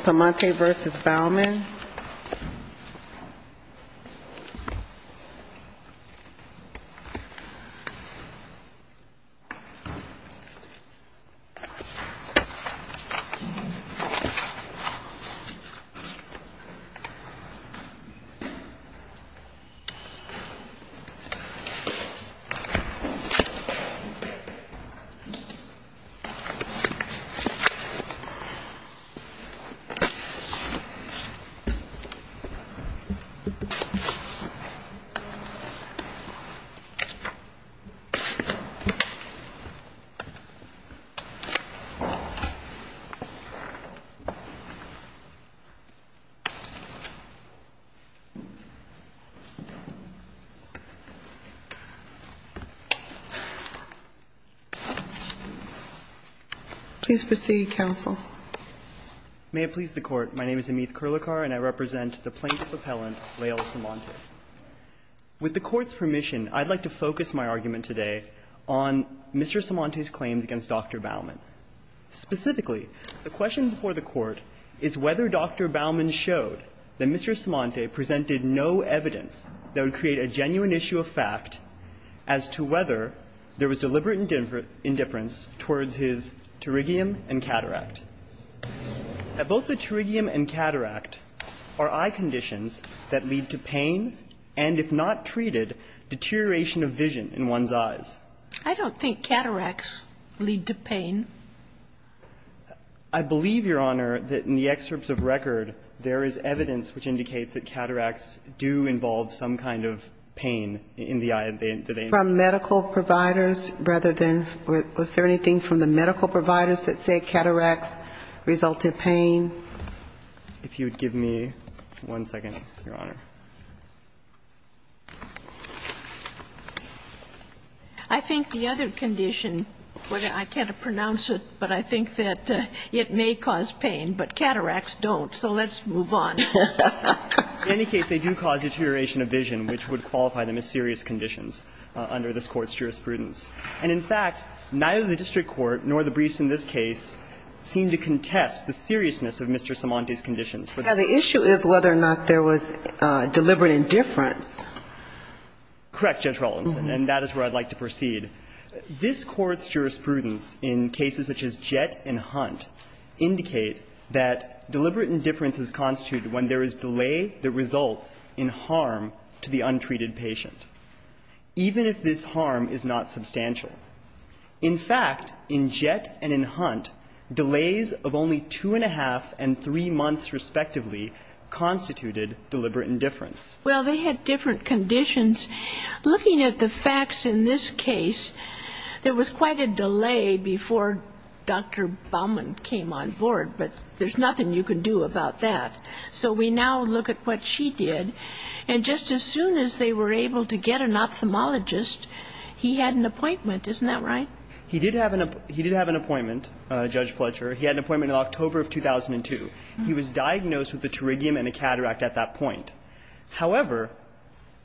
Samonte v. Bauman Please proceed, counsel. Amith Kirlikar, Jr. May it please the Court, my name is Amith Kirlikar, and I represent the plaintiff appellant, Lael Samonte. With the Court's permission, I'd like to focus my argument today on Mr. Samonte's claims against Dr. Bauman. Specifically, the question before the Court is whether Dr. Bauman showed that Mr. Samonte presented no evidence that would create a genuine issue of fact as to whether there was deliberate indifference towards his pterygium and cataract. Both the pterygium and cataract are eye conditions that lead to pain and, if not treated, deterioration of vision in one's eyes. I don't think cataracts lead to pain. I believe, Your Honor, that in the excerpts of record, there is evidence which indicates that cataracts do involve some kind of pain in the eye. And they do they not? From medical providers rather than was there anything from the medical providers that say cataracts result in pain? If you would give me one second, Your Honor. I think the other condition, I can't pronounce it, but I think that it may cause pain, but cataracts don't, so let's move on. In any case, they do cause deterioration of vision, which would qualify them as serious conditions under this Court's jurisprudence. And, in fact, neither the district court nor the briefs in this case seem to contest the seriousness of Mr. Simante's conditions. But the issue is whether or not there was deliberate indifference. Correct, Judge Rawlinson, and that is where I'd like to proceed. This Court's jurisprudence in cases such as Jett and Hunt indicate that deliberate indifference is constituted when there is delay that results in harm to the untreated patient, even if this harm is not substantial. In fact, in Jett and in Hunt, delays of only two and a half and three months respectively constituted deliberate indifference. Well, they had different conditions. Looking at the facts in this case, there was quite a delay before Dr. Baumann came on board, but there's nothing you can do about that. So we now look at what she did. And just as soon as they were able to get an ophthalmologist, he had an appointment. Isn't that right? He did have an appointment, Judge Fletcher. He had an appointment in October of 2002. He was diagnosed with the pterygium and a cataract at that point. However,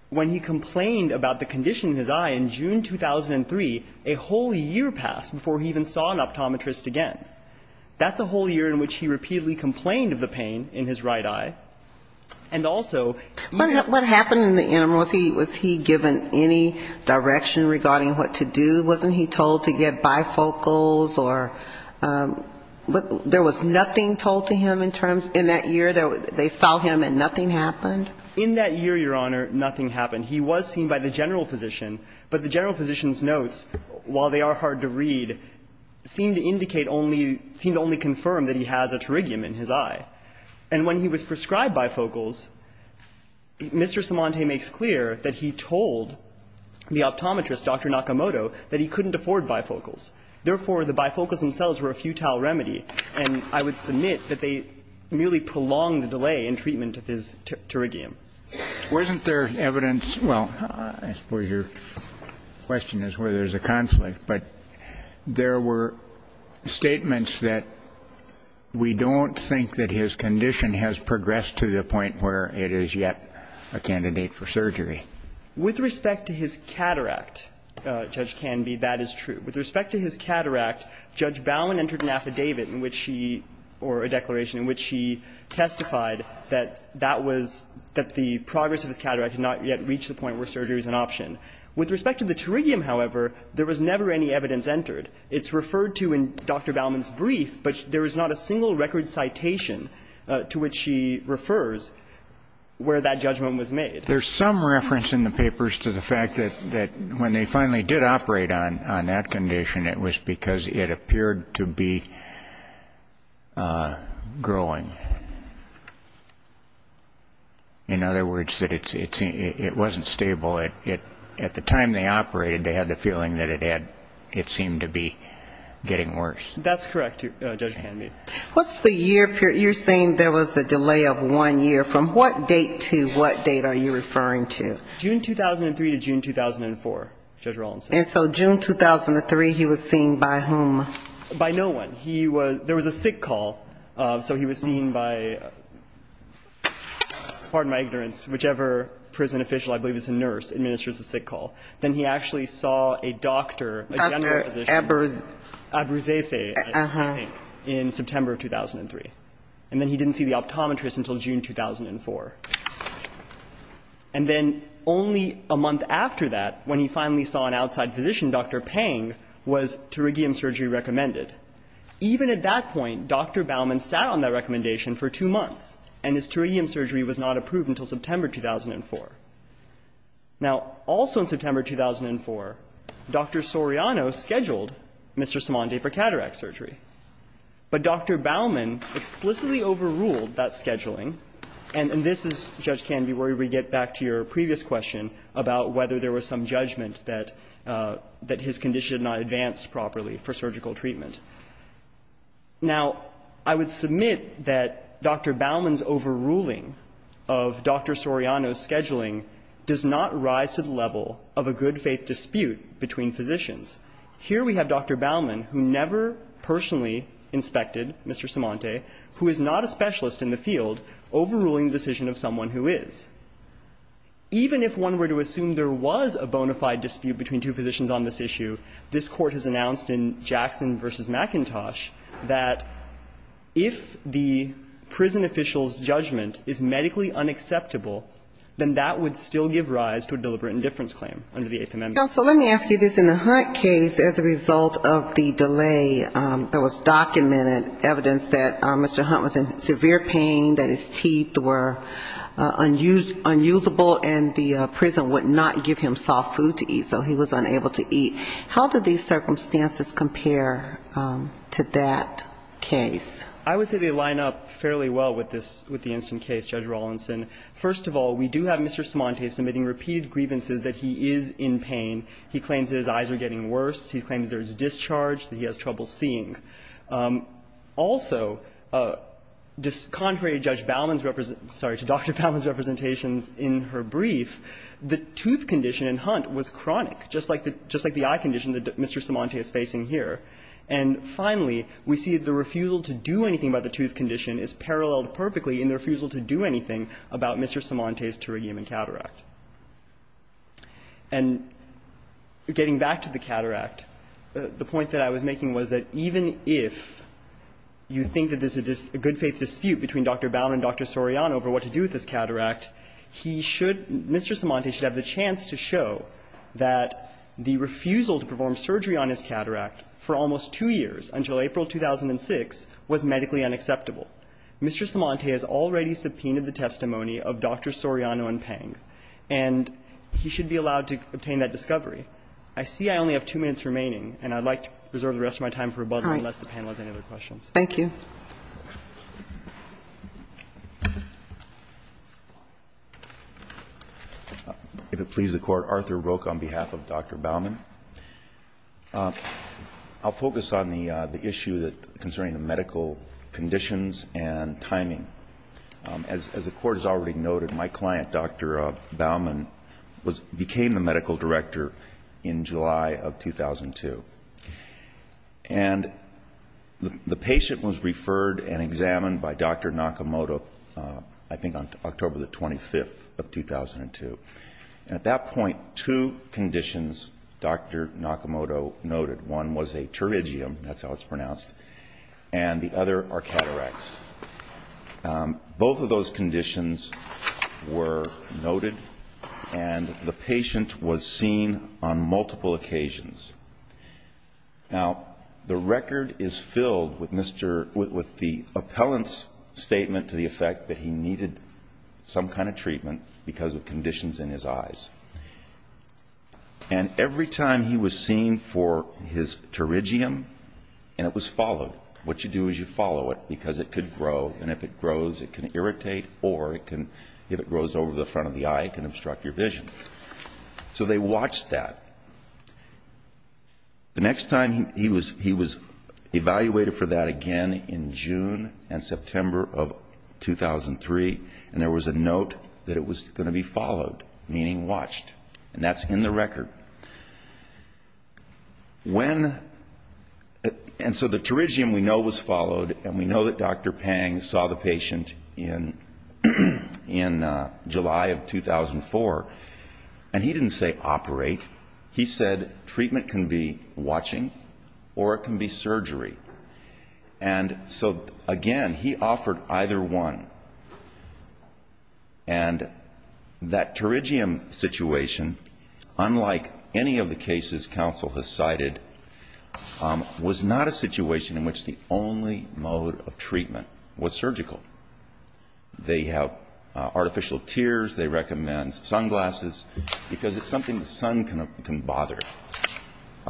when he complained about the condition in his eye in June 2003, a whole year passed before he even saw an optometrist again. That's a whole year in which he repeatedly complained of the pain in his right eye. And also he What happened in the interim? Was he given any direction regarding what to do? Wasn't he told to get bifocals or there was nothing told to him in that year? They saw him and nothing happened? In that year, Your Honor, nothing happened. He was seen by the general physician, but the general physician's notes, while they are hard to read, seem to indicate only, seem to only confirm that he has a pterygium in his eye. And when he was prescribed bifocals, Mr. Simante makes clear that he told the optometrist, Dr. Nakamoto, that he couldn't afford bifocals. Therefore, the bifocals themselves were a futile remedy, and I would submit that they merely prolonged the delay in treatment of his pterygium. Wasn't there evidence – well, I suppose your question is whether there's a conflict. But there were statements that we don't think that his condition has progressed to the point where it is yet a candidate for surgery. With respect to his cataract, Judge Canby, that is true. With respect to his cataract, Judge Bowen entered an affidavit in which she – or a that the progress of his cataract had not yet reached the point where surgery is an option. With respect to the pterygium, however, there was never any evidence entered. It's referred to in Dr. Bowman's brief, but there is not a single record citation to which she refers where that judgment was made. There's some reference in the papers to the fact that when they finally did operate on that condition, it was because it appeared to be growing. In other words, that it wasn't stable. At the time they operated, they had the feeling that it had – it seemed to be getting worse. That's correct, Judge Canby. What's the year – you're saying there was a delay of one year. From what date to what date are you referring to? June 2003 to June 2004, Judge Rawlinson. And so June 2003, he was seen by whom? By no one. He was – there was a sick call, so he was seen by – pardon my ignorance – whichever prison official, I believe it's a nurse, administers the sick call. Then he actually saw a doctor, a general physician, Abruzzese, I think, in September of 2003. And then he didn't see the optometrist until June 2004. And then only a month after that, when he finally saw an outside physician, Dr. Pang, was pterygium surgery recommended. Even at that point, Dr. Baumann sat on that recommendation for two months, and his pterygium surgery was not approved until September 2004. Now, also in September 2004, Dr. Soriano scheduled Mr. Simone de for cataract surgery. But Dr. Baumann explicitly overruled that scheduling. And this is, Judge Kanvey, where we get back to your previous question about whether there was some judgment that his condition had not advanced properly for surgical treatment. Now, I would submit that Dr. Baumann's overruling of Dr. Soriano's scheduling does not rise to the level of a good-faith dispute between physicians. Here we have Dr. Baumann, who never personally inspected Mr. Cimonte, who is not a specialist in the field, overruling the decision of someone who is. Even if one were to assume there was a bona fide dispute between two physicians on this issue, this Court has announced in Jackson v. McIntosh that if the prison official's judgment is medically unacceptable, then that would still give rise to a deliberate indifference claim under the Eighth Amendment. Now, so let me ask you this. In the Hunt case, as a result of the delay, there was documented evidence that Mr. Hunt was in severe pain, that his teeth were unusable, and the prison would not give him soft food to eat, so he was unable to eat. How do these circumstances compare to that case? I would say they line up fairly well with this, with the instant case, Judge Rawlinson. First of all, we do have Mr. Cimonte submitting repeated grievances that he is in pain. He claims that his eyes are getting worse. He claims there is discharge that he has trouble seeing. Also, contrary to Judge Baumann's representation – sorry, to Dr. Baumann's representations in her brief, the tooth condition in Hunt was chronic, just like the eye condition that Mr. Cimonte is facing here. And finally, we see the refusal to do anything about the tooth condition is paralleled in the refusal to do anything about Mr. Cimonte's pterygium and cataract. And getting back to the cataract, the point that I was making was that even if you think that there's a good-faith dispute between Dr. Baumann and Dr. Soriano over what to do with this cataract, he should – Mr. Cimonte should have the chance to show that the refusal to perform surgery on his cataract for almost two years, until April 2006, was medically unacceptable. Mr. Cimonte has already subpoenaed the testimony of Dr. Soriano and Pang, and he should be allowed to obtain that discovery. I see I only have two minutes remaining, and I'd like to reserve the rest of my time for rebuttal unless the panel has any other questions. Thank you. Roberts, if it pleases the Court, Arthur Roque on behalf of Dr. Baumann. I'll focus on the issue concerning the medical conditions and timing. As the Court has already noted, my client, Dr. Baumann, became the medical director in July of 2002. And the patient was referred and examined by Dr. Nakamoto, I think, on October the 25th of 2002. And at that point, two conditions Dr. Nakamoto noted. One was a pterygium, that's how it's pronounced, and the other are cataracts. Both of those conditions were noted, and the patient was seen on multiple occasions. Now, the record is filled with Mr. – with the appellant's statement to the effect that he needed some kind of treatment because of conditions in his eyes. And every time he was seen for his pterygium, and it was followed, what you do is you follow it because it could grow, and if it grows, it can irritate or it can – if it grows over the front of the eye, it can obstruct your vision. So they watched that. The next time he was evaluated for that again in June and September of 2003, and there was a note that it was going to be followed, meaning watched, and that's in the record. When – and so the pterygium we know was followed, and we know that Dr. Pang saw the He said treatment can be watching or it can be surgery. And so, again, he offered either one. And that pterygium situation, unlike any of the cases counsel has cited, was not a situation in which the only mode of treatment was surgical. They have artificial tears. They recommend sunglasses because it's something the sun can bother.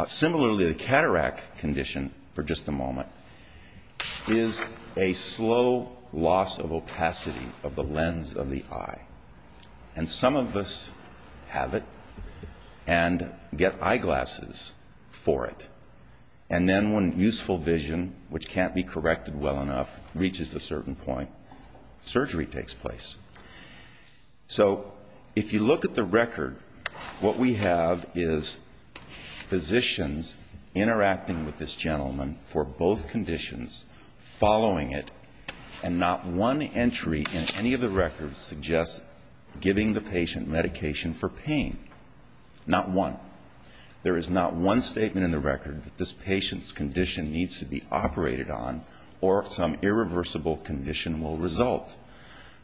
Similarly, the cataract condition, for just a moment, is a slow loss of opacity of the lens of the eye. And some of us have it and get eyeglasses for it. And then when useful vision, which can't be corrected well enough, reaches a certain point, surgery takes place. So if you look at the record, what we have is physicians interacting with this gentleman for both conditions, following it, and not one entry in any of the records suggests giving the patient medication for pain. Not one. There is not one statement in the record that this patient's condition needs to be operated on or some irreversible condition will result.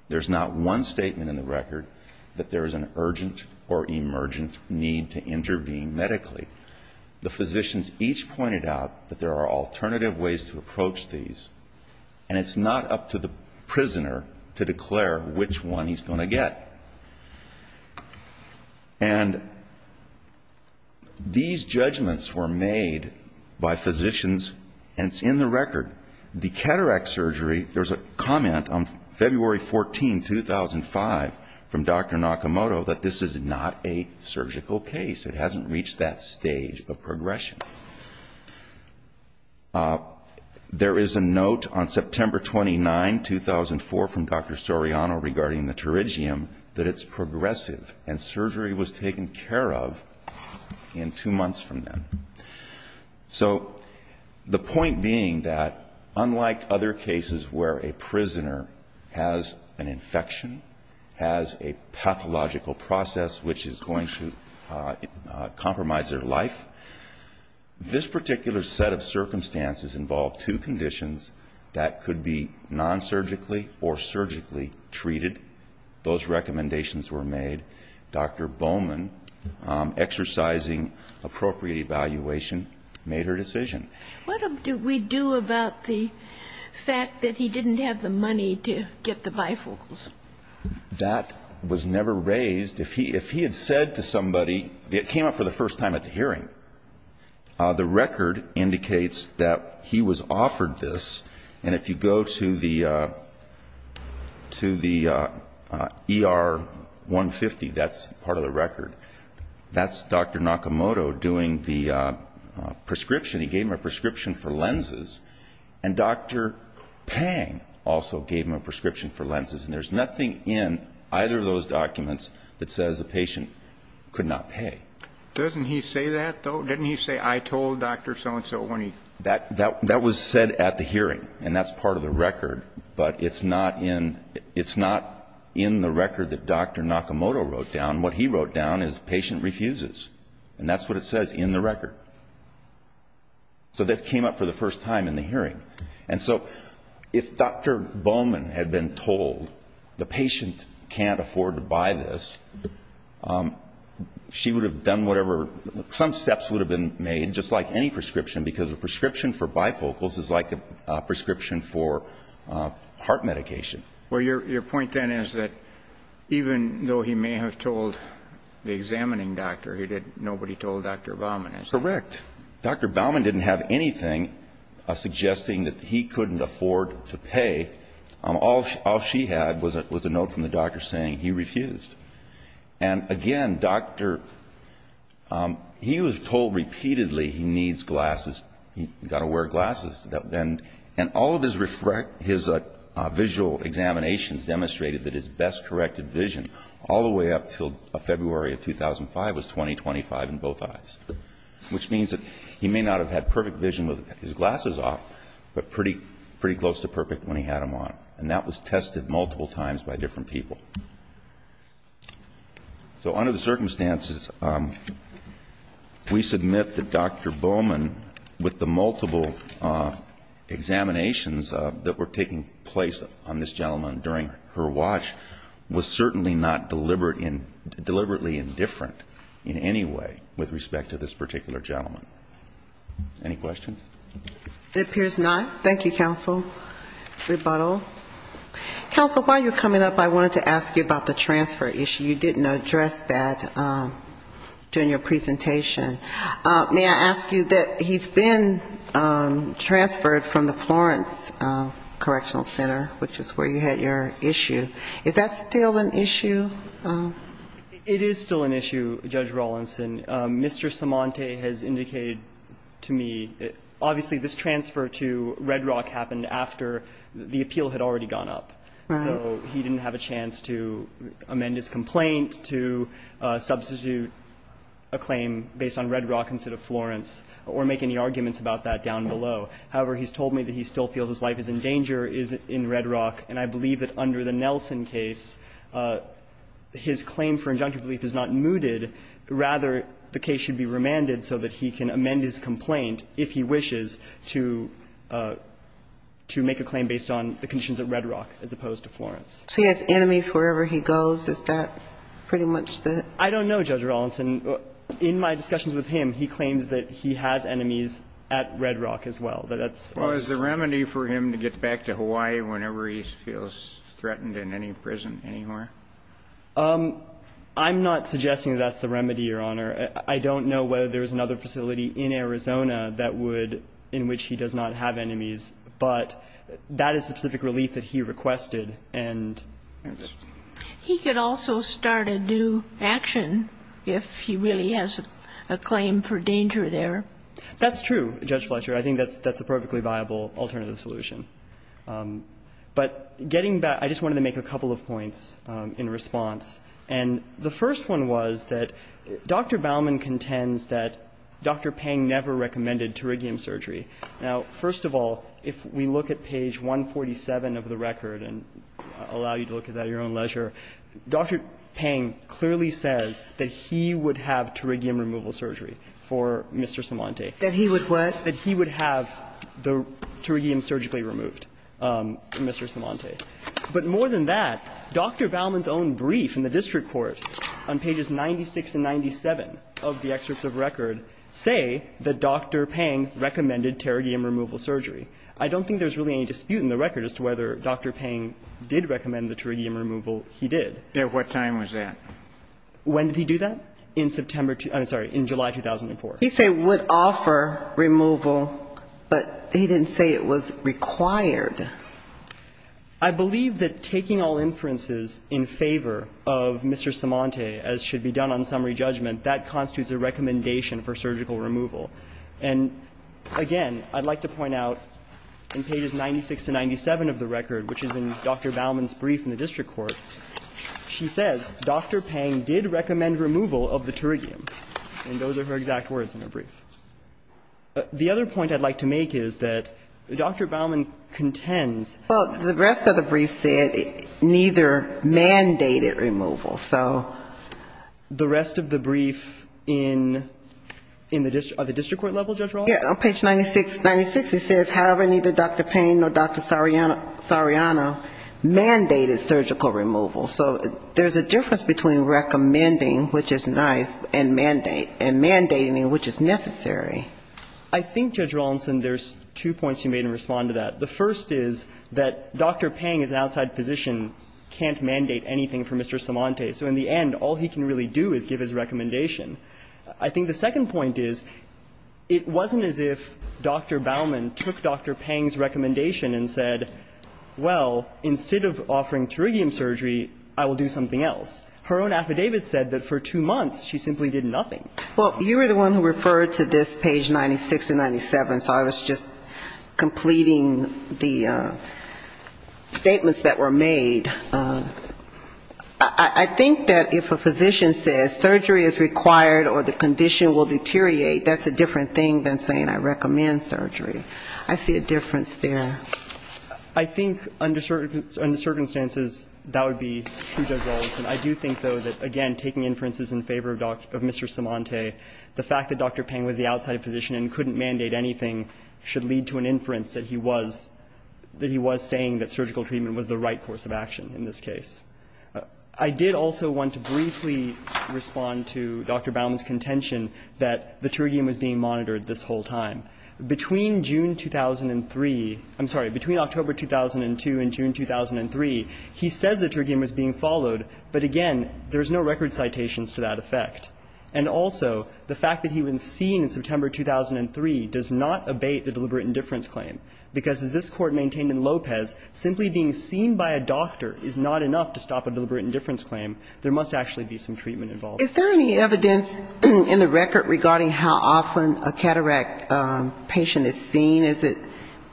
There's not one statement in the record that there is an urgent or emergent need to intervene medically. The physicians each pointed out that there are alternative ways to approach these. And it's not up to the prisoner to declare which one he's going to get. And these judgments were made by physicians, and it's in the record. The cataract surgery, there's a comment on February 14, 2005, from Dr. Nakamoto that this is not a surgical case. It hasn't reached that stage of progression. There is a note on September 29, 2004, from Dr. Soriano regarding the pterygium, that it's progressive, and surgery was taken care of in two months from then. So the point being that unlike other cases where a prisoner has an infection, has a pathological process which is going to compromise their life, this particular set of circumstances involved two conditions that could be non-surgically or surgically treated. Those recommendations were made. Dr. Bowman, exercising appropriate evaluation, made her decision. What do we do about the fact that he didn't have the money to get the bifocals? That was never raised. If he had said to somebody, it came up for the first time at the hearing, the record indicates that he was offered this. And if you go to the ER 150, that's part of the record. That's Dr. Nakamoto doing the prescription. He gave him a prescription for lenses. And Dr. Pang also gave him a prescription for lenses. And there's nothing in either of those documents that says the patient could not pay. Doesn't he say that, though? Didn't he say, I told Dr. so-and-so when he... That was said at the hearing, and that's part of the record. But it's not in the record that Dr. Nakamoto wrote down. What he wrote down is patient refuses. And that's what it says in the record. So that came up for the first time in the hearing. And so if Dr. Bowman had been told the patient can't afford to buy this, she would have done whatever... Some steps would have been made, just like any prescription, because a prescription for bifocals is like a prescription for heart medication. Well, your point then is that even though he may have told the examining doctor, nobody told Dr. Bowman, is that right? Correct. Dr. Bowman didn't have anything suggesting that he couldn't afford to pay. All she had was a note from the doctor saying he refused. And again, Dr... He was told repeatedly he needs glasses, he's got to wear glasses. And all of his visual examinations demonstrated that his best corrected vision all the way up until February of 2005 was 20-25 in both eyes. Which means that he may not have had perfect vision with his glasses off, but pretty close to perfect when he had them on. And that was tested multiple times by different people. So under the circumstances, we submit that Dr. Bowman, with the multiple examinations that were taking place on this gentleman during her watch, was certainly not deliberately indifferent in any way with respect to this particular gentleman. Any questions? It appears not. Thank you, counsel. Rebuttal. Counsel, while you're coming up, I wanted to ask you about the transfer issue. You didn't address that during your presentation. May I ask you that he's been transferred from the Florence Correctional Center, which is where you had your issue. Is that still an issue? It is still an issue, Judge Rawlinson. Mr. Cimonte has indicated to me, obviously, this transfer to Red Rock happened after the appeal had already gone up. So he didn't have a chance to amend his complaint, to substitute a claim based on Red Rock instead of Florence, or make any arguments about that down below. However, he's told me that he still feels his life is in danger in Red Rock. And I believe that under the Nelson case, his claim for injunctive relief is not mooted. Rather, the case should be remanded so that he can amend his complaint, if he wishes, to make a claim based on the conditions at Red Rock as opposed to Florence. So he has enemies wherever he goes? Is that pretty much the ---- I don't know, Judge Rawlinson. In my discussions with him, he claims that he has enemies at Red Rock as well. That's all I can say. So is the remedy for him to get back to Hawaii whenever he feels threatened in any prison anywhere? I'm not suggesting that's the remedy, Your Honor. I don't know whether there's another facility in Arizona that would ---- in which he does not have enemies. But that is the specific relief that he requested. And ---- He could also start a new action if he really has a claim for danger there. That's true, Judge Fletcher. I think that's a perfectly viable alternative solution. But getting back, I just wanted to make a couple of points in response. And the first one was that Dr. Baumann contends that Dr. Pang never recommended pterygium surgery. Now, first of all, if we look at page 147 of the record, and I'll allow you to look at that at your own leisure, Dr. Pang clearly says that he would have pterygium removal surgery for Mr. Simante. That he would what? That he would have the pterygium surgically removed for Mr. Simante. But more than that, Dr. Baumann's own brief in the district court on pages 96 and 97 of the excerpts of record say that Dr. Pang recommended pterygium removal surgery. I don't think there's really any dispute in the record as to whether Dr. Pang did recommend the pterygium removal he did. At what time was that? When did he do that? In September ---- I'm sorry, in July 2004. He said would offer removal, but he didn't say it was required. I believe that taking all inferences in favor of Mr. Simante, as should be done on summary judgment, that constitutes a recommendation for surgical removal. And again, I'd like to point out in pages 96 to 97 of the record, which is in Dr. Baumann's brief in the district court, she says Dr. Pang did recommend removal of the pterygium. And those are her exact words in her brief. The other point I'd like to make is that Dr. Baumann contends ---- Well, the rest of the brief said neither mandated removal. So ---- The rest of the brief in the district court level, Judge Rollins? Yeah. On page 96, it says, however, neither Dr. Pang nor Dr. Soriano mandated surgical removal. So there's a difference between recommending, which is nice, and mandating, which is necessary. I think, Judge Rollinson, there's two points you made in response to that. The first is that Dr. Pang is an outside physician, can't mandate anything for Mr. Simante. So in the end, all he can really do is give his recommendation. I think the second point is, it wasn't as if Dr. Baumann took Dr. Pang's recommendation and said, well, instead of offering pterygium surgery, I will do something else. Her own affidavit said that for two months, she simply did nothing. Well, you were the one who referred to this page 96 and 97. So I was just completing the statements that were made. I think that if a physician says surgery is required or the condition will deteriorate, that's a different thing than saying I recommend surgery. I see a difference there. I think under certain circumstances, that would be true, Judge Rollinson. I do think, though, that, again, taking inferences in favor of Mr. Simante, the fact that Dr. Pang was the outside physician and couldn't mandate anything should lead to an inference that he was saying that surgical treatment was the right course of action in this case. I did also want to briefly respond to Dr. Baumann's contention that the pterygium was being monitored this whole time. Between June 2003 ‑‑ I'm sorry, between October 2002 and June 2003, he says the pterygium was being followed, but, again, there's no record citations to that effect. And also, the fact that he was seen in September 2003 does not abate the deliberate indifference claim, because as this Court maintained in Lopez, simply being seen by a doctor is not enough to stop a deliberate indifference claim. There must actually be some treatment involved. Is there any evidence in the record regarding how often a cataract patient is seen? Is it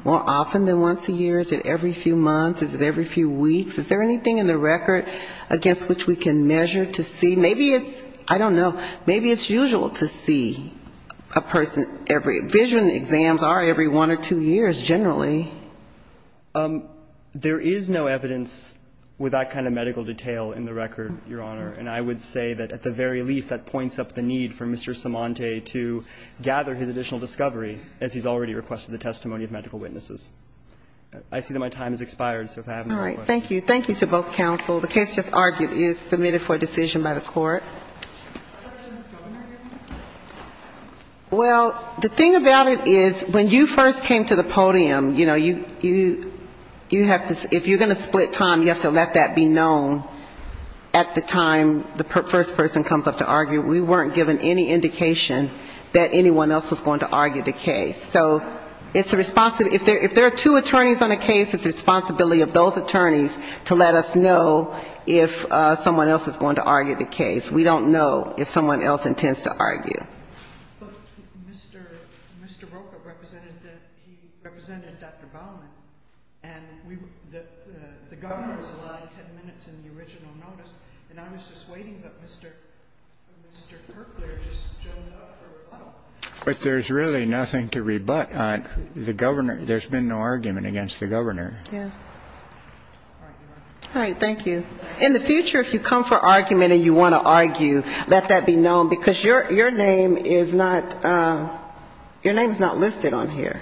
more often than once a year? Is it every few months? Is it every few weeks? Is there anything in the record against which we can measure to see? Maybe it's ‑‑ I don't know. Maybe it's usual to see a person every ‑‑ vision exams are every one or two years generally. There is no evidence with that kind of medical detail in the record, Your Honor. And I would say that at the very least, that points up the need for Mr. Cimonte to gather his additional discovery, as he's already requested the testimony of medical witnesses. I see that my time has expired, so if I have more questions. Thank you. Thank you to both counsel. The case just argued is submitted for a decision by the Court. Well, the thing about it is when you first came to the podium, you know, you have to ‑‑ if you're going to split time, you have to let that be known at the time the first person comes up to argue. We weren't given any indication that anyone else was going to argue the case. So it's a responsibility ‑‑ if there are two attorneys on a case, it's the responsibility of those attorneys to let us know if someone else is going to argue the case. But Mr. Rocha represented Dr. Bowman, and the governor's line, 10 minutes in the original notice, and I was just waiting, but Mr. Kirkler just showed up for rebuttal. But there's really nothing to rebut. The governor ‑‑ there's been no argument against the governor. Yeah. All right, Your Honor. All right. Thank you. In the future, if you come for argument and you want to argue, let that be known, because your name is not ‑‑ your name is not listed on here.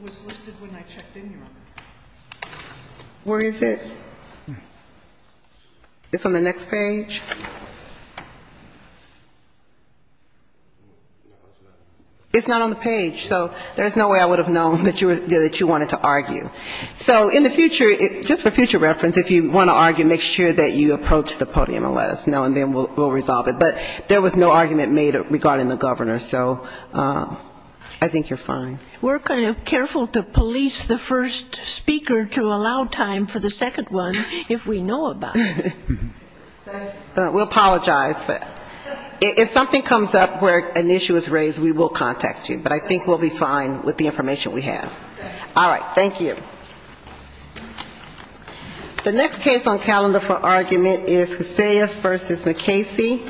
It was listed when I checked in, Your Honor. Where is it? It's on the next page? It's not on the page. So there's no way I would have known that you wanted to argue. So in the future, just for future reference, if you want to argue, make sure that you approach the podium and let us know, and then we'll resolve it. But there was no argument made regarding the governor. So I think you're fine. We're kind of careful to police the first speaker to allow time for the second one, if we know about it. We'll apologize, but if something comes up where an issue is raised, we will contact you. But I think we'll be fine with the information we have. All right. Thank you. The next case on calendar for argument is Hosea v. McCasey.